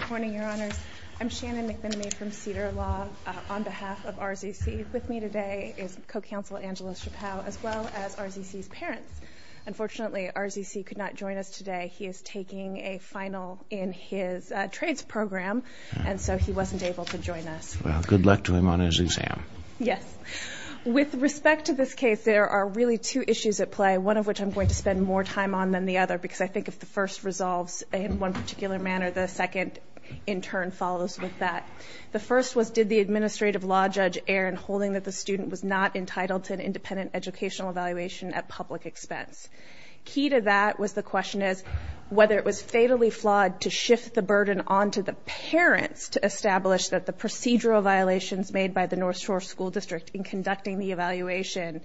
Good morning, Your Honors. I'm Shannon McBinney from Cedar Law. On behalf of R.Z.C., with me today is Co-Counsel Angela Chappow, as well as R.Z.C.'s parents. Unfortunately, R.Z.C. could not join us today. He is taking a final in his trades program, and so he wasn't able to join us. Well, good luck to him on his exam. Yes. With respect to this case, there are really two issues at play, one of which I'm going to spend more time on than the other, because I think if the first resolves in one particular manner, the second, in turn, follows with that. The first was did the Administrative Law Judge err in holding that the student was not entitled to an independent educational evaluation at public expense? Key to that was the question is whether it was fatally flawed to shift the burden onto the parents to establish that the procedural violations made by the Northshore School District in conducting the evaluation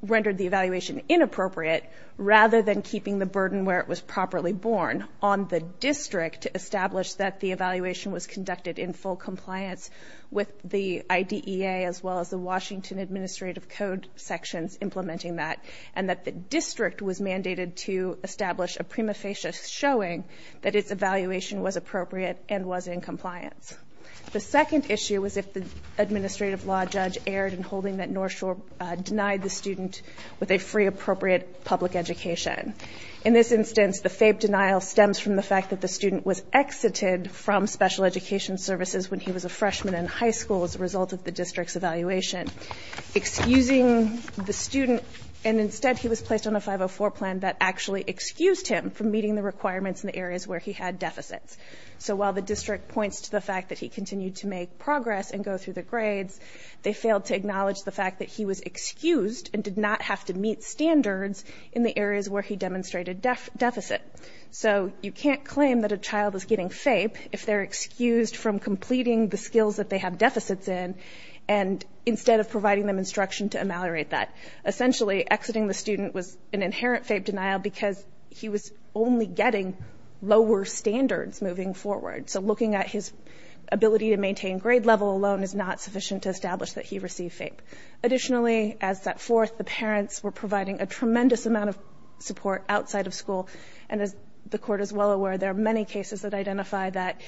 rendered the evaluation inappropriate, rather than keeping the burden where it was properly borne on the district to establish that the evaluation was conducted in full compliance with the IDEA, as well as the Washington Administrative Code sections implementing that, and that the district was mandated to establish a prima facie showing that its evaluation was appropriate and was in compliance. The second issue was if the Administrative Law Judge erred in holding that Northshore denied the student with a free, appropriate public education. In this instance, the fabe denial stems from the fact that the student was exited from special education services when he was a freshman in high school as a result of the district's evaluation, excusing the student, and instead he was placed on a 504 plan that actually excused him from meeting the requirements in the areas where he had deficits. So while the district points to the fact that he continued to make progress and go through the grades, they failed to acknowledge the fact that he was excused and did not have to meet standards in the areas where he demonstrated deficit. So you can't claim that a child is getting FAPE if they're excused from completing the skills that they have deficits in, and instead of providing them instruction to ameliorate that. Essentially, exiting the student was an inherent FAPE denial because he was only getting lower standards moving forward. So looking at his ability to maintain grade level alone is not sufficient to establish that he received FAPE. Additionally, as set forth, the parents were providing a tremendous amount of support outside of school, and as the court is well aware, there are many cases that identify that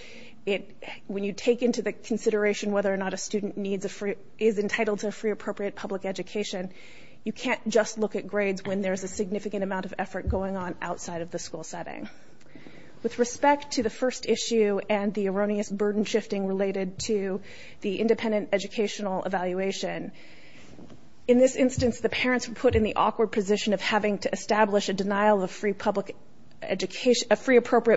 when you take into the consideration whether or not a student is entitled to a free appropriate public education, you can't just look at grades when there's a significant amount of effort going on outside of the school setting. With respect to the first issue and the erroneous burden shifting related to the independent educational evaluation, in this instance, the parents were put in the awkward position of having to establish a denial of free appropriate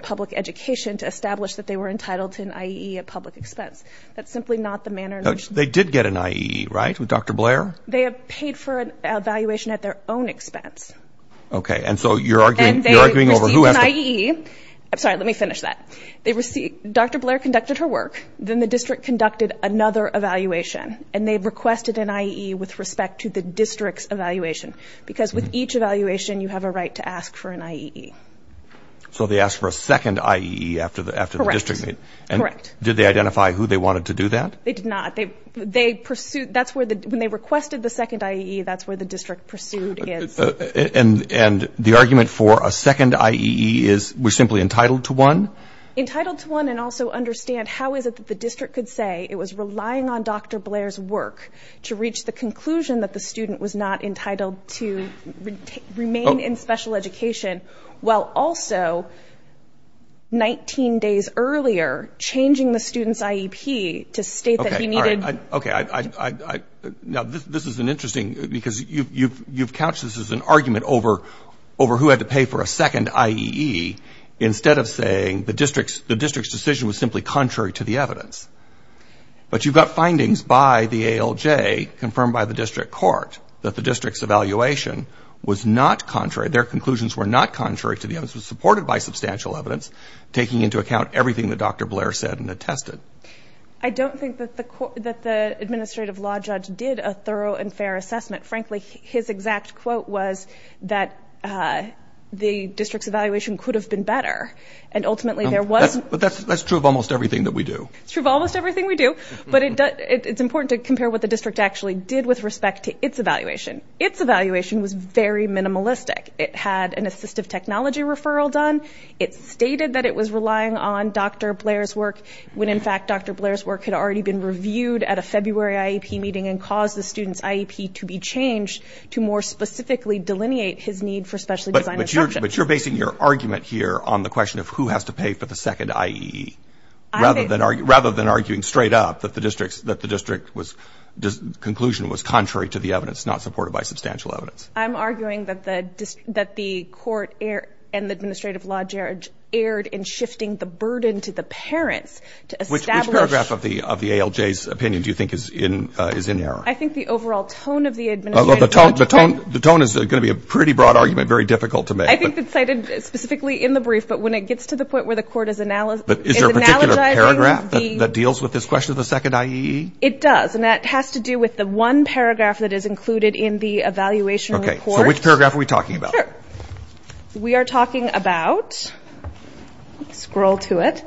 public education to establish that they were entitled to an IEE at public expense. That's simply not the manner in which... They did get an IEE, right, with Dr. Blair? They had paid for an evaluation at their own expense. Okay, and so you're arguing over who has to... And they received an IEE. I'm sorry, let me finish that. Dr. Blair conducted her work, then the district conducted another evaluation, and they requested an IEE with respect to the district's evaluation because with each evaluation you have a right to ask for an IEE. So they asked for a second IEE after the district... Correct, correct. Did they identify who they wanted to do that? They did not. When they requested the second IEE, that's where the district pursued is. And the argument for a second IEE is we're simply entitled to one? Entitled to one and also understand how is it that the district could say it was relying on Dr. Blair's work to reach the conclusion that the student was not entitled to remain in special education while also 19 days earlier changing the student's IEP to state that he needed... Okay, all right, okay. Now, this is an interesting... because you've couched this as an argument over who had to pay for a second IEE instead of saying the district's decision was simply contrary to the evidence. But you've got findings by the ALJ, confirmed by the district court, that the district's evaluation was not contrary. Their conclusions were not contrary to the evidence. It was supported by substantial evidence, taking into account everything that Dr. Blair said and attested. I don't think that the administrative law judge did a thorough and fair assessment. Frankly, his exact quote was that the district's evaluation could have been better, and ultimately there was... But that's true of almost everything that we do. It's true of almost everything we do, but it's important to compare what the district actually did with respect to its evaluation. Its evaluation was very minimalistic. It had an assistive technology referral done. It stated that it was relying on Dr. Blair's work when, in fact, Dr. Blair's work had already been reviewed at a February IEP meeting and caused the student's IEP to be changed to more specifically delineate his need for specially designed instruction. But you're basing your argument here on the question of who has to pay for the second IEE rather than arguing straight up that the district's conclusion was contrary to the evidence, not supported by substantial evidence. I'm arguing that the court and the administrative law judge erred in shifting the burden to the parents to establish... Which paragraph of the ALJ's opinion do you think is in error? I think the overall tone of the administrative law judge... The tone is going to be a pretty broad argument, very difficult to make. I think it's cited specifically in the brief, but when it gets to the point where the court is analogizing... Is there a particular paragraph that deals with this question of the second IEE? It does, and that has to do with the one paragraph that is included in the evaluation report. Okay, so which paragraph are we talking about? Sure. We are talking about... Scroll to it.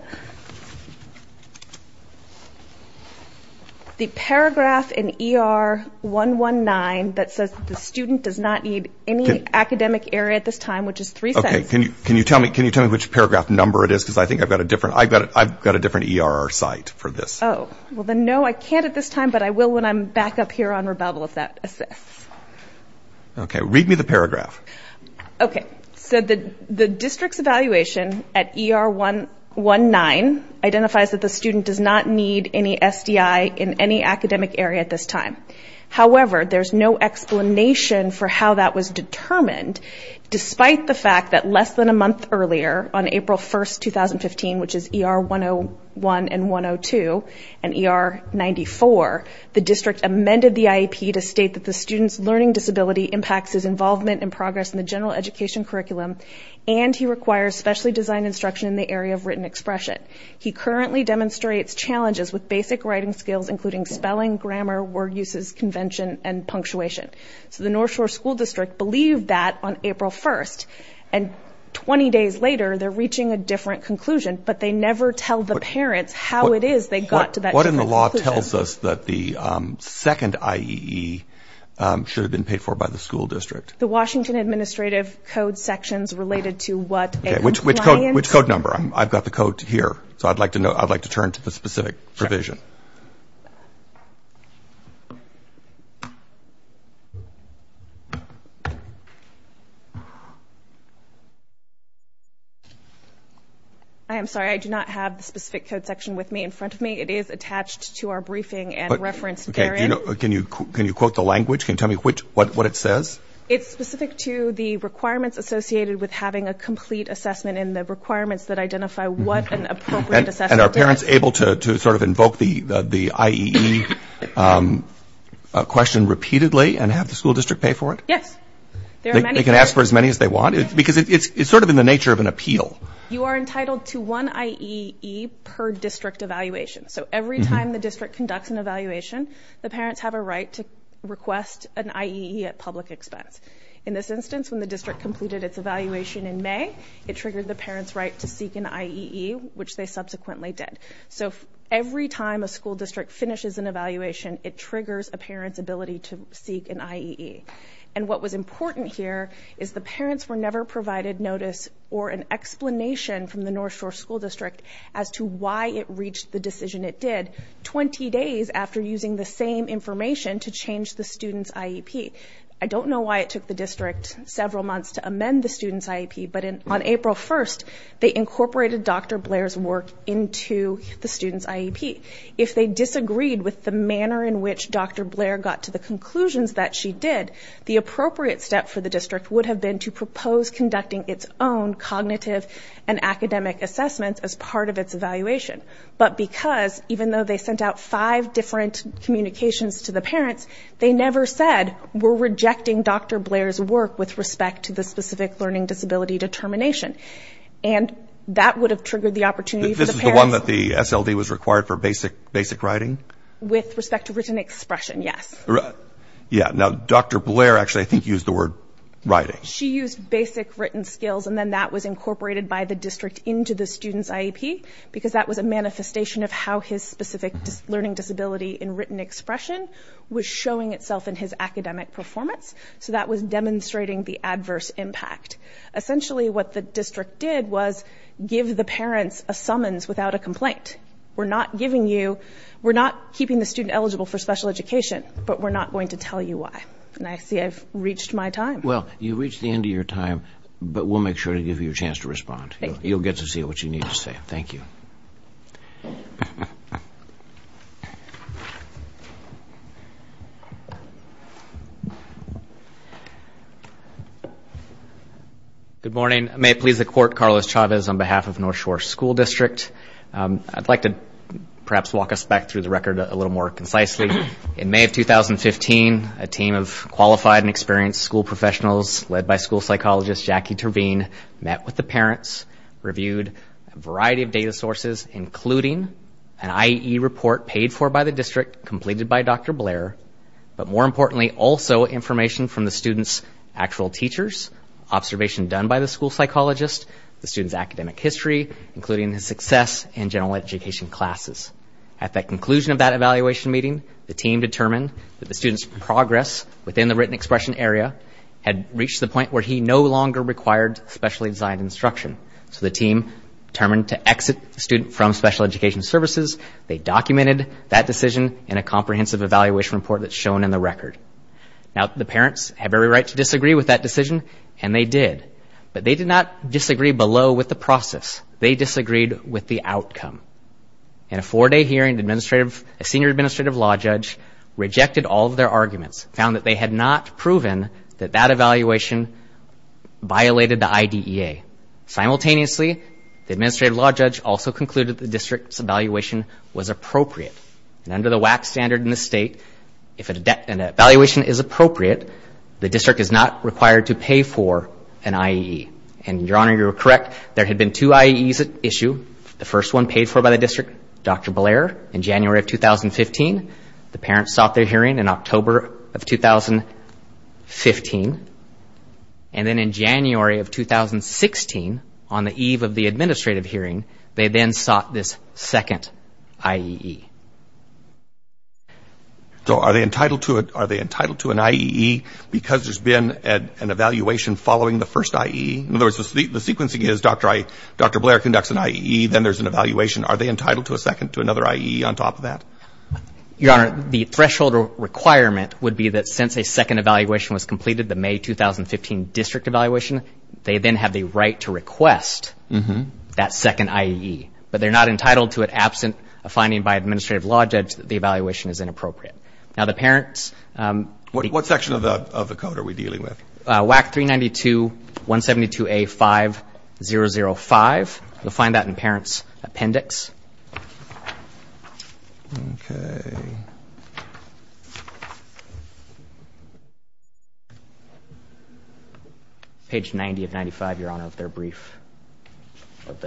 The paragraph in ER 119 that says the student does not need any academic area at this time, which is three sentences. Okay. Can you tell me which paragraph number it is? Because I think I've got a different ER site for this. Oh. Well, then, no, I can't at this time, but I will when I'm back up here on rebuttal if that assists. Okay. Read me the paragraph. Okay. So the district's evaluation at ER 119 identifies that the student does not need any SDI in any academic area at this time. However, there's no explanation for how that was determined, despite the fact that less than a month earlier, on April 1, 2015, which is ER 101 and 102 and ER 94, the district amended the IEP to state that the student's learning disability impacts his involvement and progress in the general education curriculum, and he requires specially designed instruction in the area of written expression. He currently demonstrates challenges with basic writing skills, including spelling, grammar, word uses, convention, and punctuation. So the North Shore School District believed that on April 1, and 20 days later they're reaching a different conclusion, but they never tell the parents how it is they got to that conclusion. What in the law tells us that the second IEE should have been paid for by the school district? The Washington Administrative Code sections related to what a client. Okay. Which code number? I've got the code here, so I'd like to turn to the specific provision. I am sorry, I do not have the specific code section with me in front of me. It is attached to our briefing and referenced therein. Okay. Can you quote the language? Can you tell me what it says? It's specific to the requirements associated with having a complete assessment and the requirements that identify what an appropriate assessment is. Yes. Okay. Do parents have to see the IEE question repeatedly and have the school district pay for it? Yes. They can ask for as many as they want? Because it's sort of in the nature of an appeal. You are entitled to one IEE per district evaluation. So every time the district conducts an evaluation, the parents have a right to request an IEE at public expense. In this instance, when the district completed its evaluation in May, it triggered the parents' right to seek an IEE, which they subsequently did. So every time a school district finishes an evaluation, it triggers a parent's ability to seek an IEE. And what was important here is the parents were never provided notice or an explanation from the North Shore School District as to why it reached the decision it did 20 days after using the same information to change the student's IEP. I don't know why it took the district several months to amend the student's IEP, but on April 1st, they incorporated Dr. Blair's work into the student's IEP. If they disagreed with the manner in which Dr. Blair got to the conclusions that she did, the appropriate step for the district would have been to propose conducting its own cognitive and academic assessments as part of its evaluation. But because, even though they sent out five different communications to the parents, they never said, we're rejecting Dr. Blair's work with respect to the specific learning disability determination. And that would have triggered the opportunity for the parents. This is the one that the SLD was required for basic writing? With respect to written expression, yes. Yeah. Now, Dr. Blair actually, I think, used the word writing. She used basic written skills, and then that was incorporated by the district into the student's IEP because that was a manifestation of how his specific learning disability in written expression was showing itself in his academic performance. So that was demonstrating the adverse impact. Essentially, what the district did was give the parents a summons without a complaint. We're not giving you, we're not keeping the student eligible for special education, but we're not going to tell you why. And I see I've reached my time. Well, you've reached the end of your time, but we'll make sure to give you a chance to respond. Thank you. You'll get to see what you need to say. Thank you. Thank you. Good morning. May it please the Court, Carlos Chavez on behalf of North Shore School District. I'd like to perhaps walk us back through the record a little more concisely. In May of 2015, a team of qualified and experienced school professionals led by school psychologist Jackie Terveen met with the parents, reviewed a variety of data sources, including an IE report paid for by the district, completed by Dr. Blair, but more importantly, also information from the students' actual teachers, observation done by the school psychologist, the student's academic history, including his success in general education classes. At the conclusion of that evaluation meeting, the team determined that the student's progress within the written expression area had reached the point where he no longer required specially designed instruction. So the team determined to exit the student from special education services. They documented that decision in a comprehensive evaluation report that's shown in the record. Now, the parents have every right to disagree with that decision, and they did. But they did not disagree below with the process. They disagreed with the outcome. In a four-day hearing, a senior administrative law judge rejected all of their arguments, found that they had not proven that that evaluation violated the IDEA. Simultaneously, the administrative law judge also concluded the district's evaluation was appropriate. And under the WAC standard in the state, if an evaluation is appropriate, the district is not required to pay for an IE. And, Your Honor, you're correct. There had been two IEs at issue. The first one paid for by the district, Dr. Blair, in January of 2015. The parents sought their hearing in October of 2015. And then in January of 2016, on the eve of the administrative hearing, they then sought this second IEE. So are they entitled to an IEE because there's been an evaluation following the first IEE? In other words, the sequencing is Dr. Blair conducts an IEE, then there's an evaluation. Are they entitled to a second, to another IEE on top of that? Your Honor, the threshold requirement would be that since a second evaluation was completed, the May 2015 district evaluation, they then have the right to request that second IEE. But they're not entitled to it absent a finding by an administrative law judge that the evaluation is inappropriate. Now, the parents ---- What section of the code are we dealing with? WAC 392-172A-5005. You'll find that in parents' appendix. Okay. Page 90 of 95, Your Honor, of their brief, at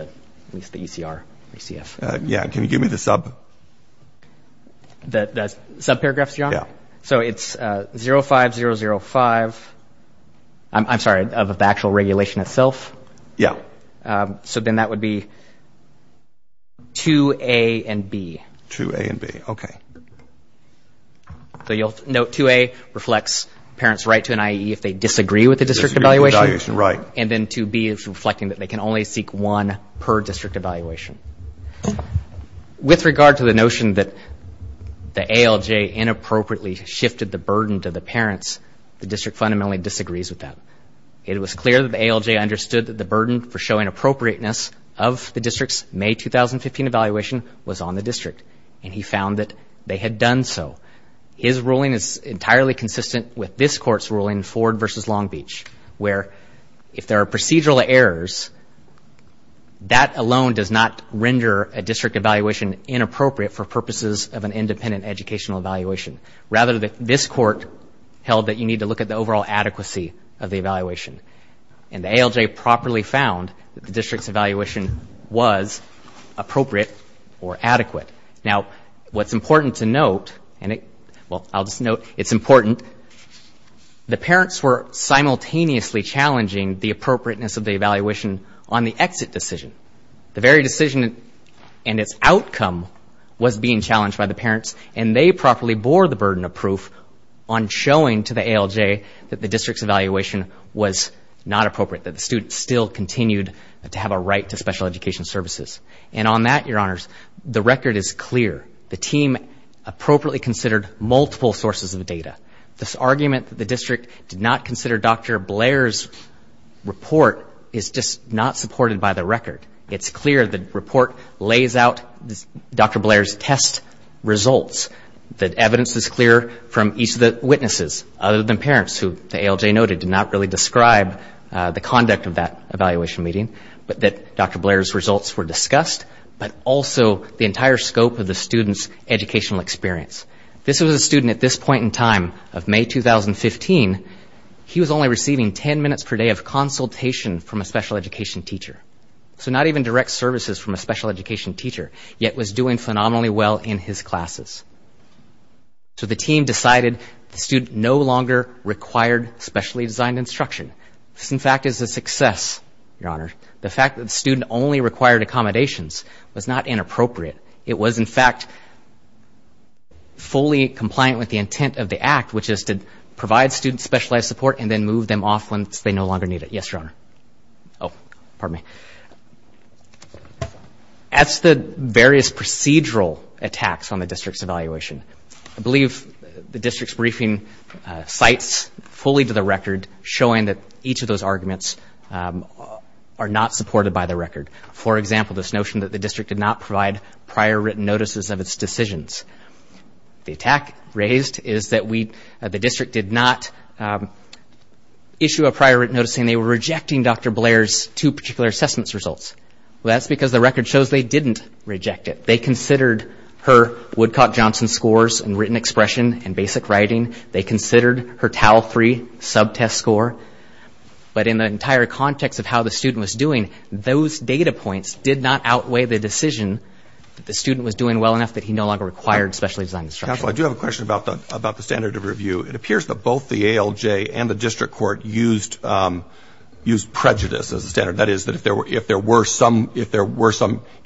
least the ECR, ECF. Yeah. Can you give me the sub? The subparagraphs, Your Honor? Yeah. So it's 05005. I'm sorry, of the actual regulation itself? Yeah. Okay. So then that would be 2A and B. 2A and B. Okay. So you'll note 2A reflects parents' right to an IEE if they disagree with the district evaluation. Right. And then 2B is reflecting that they can only seek one per district evaluation. With regard to the notion that the ALJ inappropriately shifted the burden to the parents, the district fundamentally disagrees with that. It was clear that the ALJ understood that the burden for showing appropriateness of the district's May 2015 evaluation was on the district, and he found that they had done so. His ruling is entirely consistent with this Court's ruling, Ford v. Long Beach, where if there are procedural errors, that alone does not render a district evaluation inappropriate for purposes of an independent educational evaluation. Rather, this Court held that you need to look at the overall adequacy of the evaluation. And the ALJ properly found that the district's evaluation was appropriate or adequate. Now, what's important to note, and I'll just note it's important, the parents were simultaneously challenging the appropriateness of the evaluation on the exit decision. The very decision and its outcome was being challenged by the parents, and they properly bore the burden of proof on showing to the ALJ that the district's evaluation was not appropriate, that the students still continued to have a right to special education services. And on that, Your Honors, the record is clear. The team appropriately considered multiple sources of data. This argument that the district did not consider Dr. Blair's report is just not supported by the record. It's clear the report lays out Dr. Blair's test results. The evidence is clear from each of the witnesses, other than parents, who the ALJ noted did not really describe the conduct of that evaluation meeting, but that Dr. Blair's results were discussed, but also the entire scope of the student's educational experience. This was a student at this point in time of May 2015. He was only receiving 10 minutes per day of consultation from a special education teacher. So not even direct services from a special education teacher, yet was doing phenomenally well in his classes. So the team decided the student no longer required specially designed instruction. This, in fact, is a success, Your Honor. The fact that the student only required accommodations was not inappropriate. It was, in fact, fully compliant with the intent of the Act, which is to provide students specialized support and then move them off once they no longer need it. Yes, Your Honor. Oh, pardon me. As to the various procedural attacks on the district's evaluation, I believe the district's briefing cites fully to the record, showing that each of those arguments are not supported by the record. For example, this notion that the district did not provide prior written notices of its decisions. The attack raised is that the district did not issue a prior written notice saying they were rejecting Dr. Blair's two particular assessments results. Well, that's because the record shows they didn't reject it. They considered her Woodcock-Johnson scores in written expression and basic writing. They considered her Tau 3 subtest score. But in the entire context of how the student was doing, those data points did not outweigh the decision that the student was doing well enough that he no longer required specially designed instruction. Counsel, I do have a question about the standard of review. It appears that both the ALJ and the district court used prejudice as a standard. That is, if there were some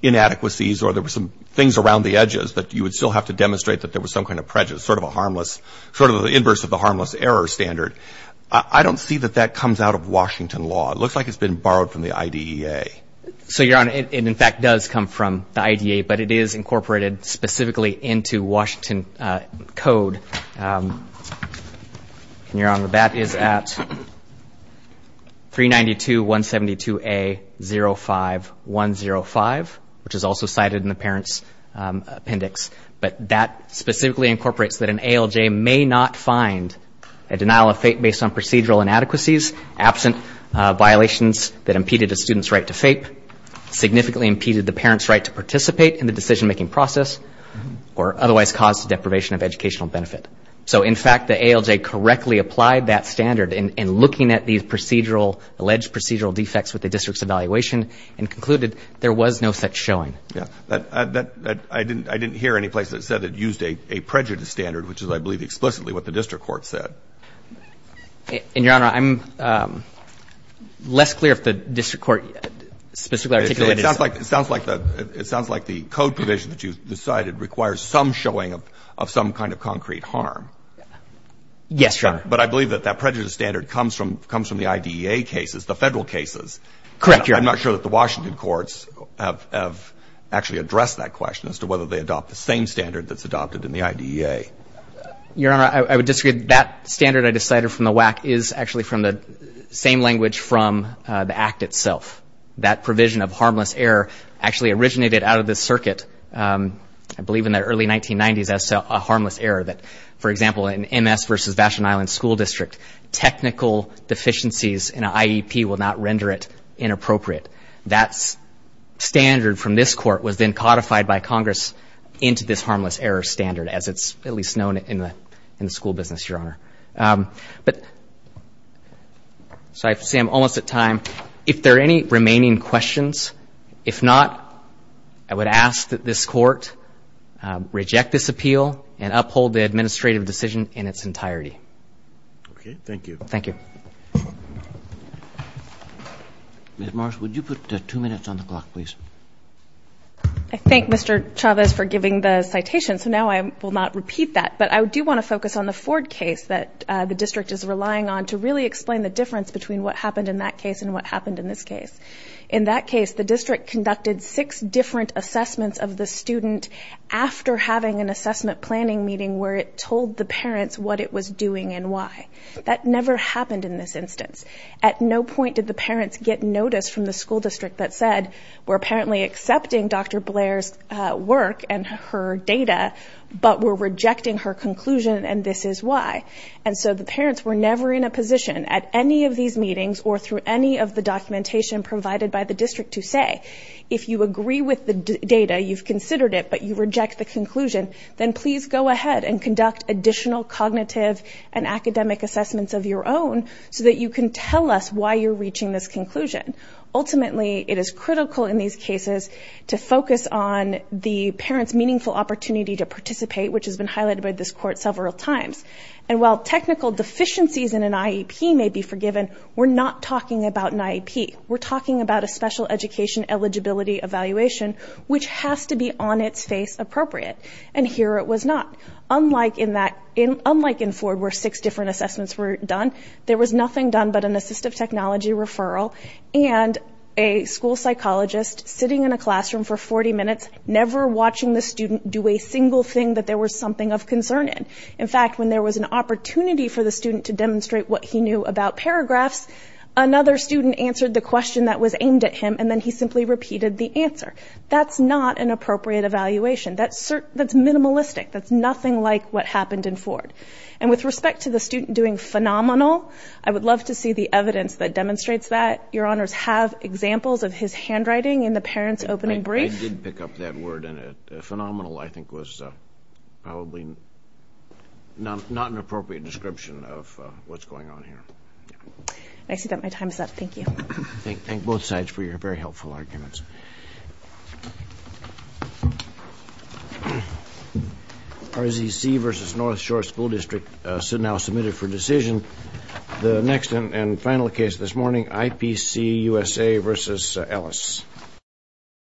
inadequacies or there were some things around the edges that you would still have to demonstrate that there was some kind of prejudice, sort of a harmless, sort of the inverse of the harmless error standard. I don't see that that comes out of Washington law. It looks like it's been borrowed from the IDEA. So, Your Honor, it in fact does come from the IDEA, but it is incorporated specifically into Washington code. And, Your Honor, that is at 392.172A.05.105, which is also cited in the parent's appendix. But that specifically incorporates that an ALJ may not find a denial of FAPE based on procedural inadequacies, absent violations that impeded a student's right to FAPE, significantly impeded the parent's right to participate in the decision-making process, or otherwise caused the deprivation of educational benefit. So, in fact, the ALJ correctly applied that standard in looking at these procedural, alleged procedural defects with the district's evaluation and concluded there was no such showing. I didn't hear any place that said it used a prejudice standard, which is, I believe, explicitly what the district court said. And, Your Honor, I'm less clear if the district court specifically articulated It sounds like the code provision that you've decided requires some showing of some kind of concrete harm. Yes, Your Honor. But I believe that that prejudice standard comes from the IDEA cases, the Federal cases. Correct, Your Honor. I'm not sure that the Washington courts have actually addressed that question as to whether they adopt the same standard that's adopted in the IDEA. Your Honor, I would disagree. That standard I decided from the WAC is actually from the same language from the Act itself. That provision of harmless error actually originated out of this circuit, I believe in the early 1990s, as to a harmless error that, for example, in MS versus Vashton Island School District, technical deficiencies in an IEP will not render it inappropriate. That standard from this court was then codified by Congress into this harmless error standard, as it's at least known in the school business, Your Honor. But, so I see I'm almost at time. If there are any remaining questions, if not, I would ask that this court reject this appeal and uphold the administrative decision in its entirety. Okay, thank you. Thank you. Ms. Marsh, would you put two minutes on the clock, please? I thank Mr. Chavez for giving the citation, so now I will not repeat that. But I do want to focus on the Ford case that the district is relying on to really explain the difference between what happened in that case and what happened in this case. In that case, the district conducted six different assessments of the student after having an assessment planning meeting where it told the parents what it was doing and why. That never happened in this instance. At no point did the parents get notice from the school district that said, we're apparently accepting Dr. Blair's work and her data, but we're rejecting her conclusion and this is why. And so the parents were never in a position at any of these meetings or through any of the documentation provided by the district to say, if you agree with the data, you've considered it, but you reject the conclusion, then please go ahead and conduct additional cognitive and academic assessments of your own so that you can tell us why you're reaching this conclusion. Ultimately, it is critical in these cases to focus on the parents' meaningful opportunity to participate, which has been highlighted by this court several times. And while technical deficiencies in an IEP may be forgiven, we're not talking about an IEP. We're talking about a special education eligibility evaluation, which has to be on its face appropriate, and here it was not. Unlike in Ford where six different assessments were done, there was nothing done but an assistive technology referral and a school psychologist sitting in a classroom for 40 minutes, never watching the student do a single thing that there was something of concern in. In fact, when there was an opportunity for the student to demonstrate what he knew about paragraphs, another student answered the question that was aimed at him and then he simply repeated the answer. That's not an appropriate evaluation. That's nothing like what happened in Ford. And with respect to the student doing phenomenal, I would love to see the evidence that demonstrates that. Your Honors have examples of his handwriting in the parents' opening brief. I did pick up that word in it. Phenomenal, I think, was probably not an appropriate description of what's going on here. I see that my time is up. Thank you. Thank both sides for your very helpful arguments. RZC versus North Shore School District now submitted for decision. The next and final case this morning, IPC-USA versus Ellis.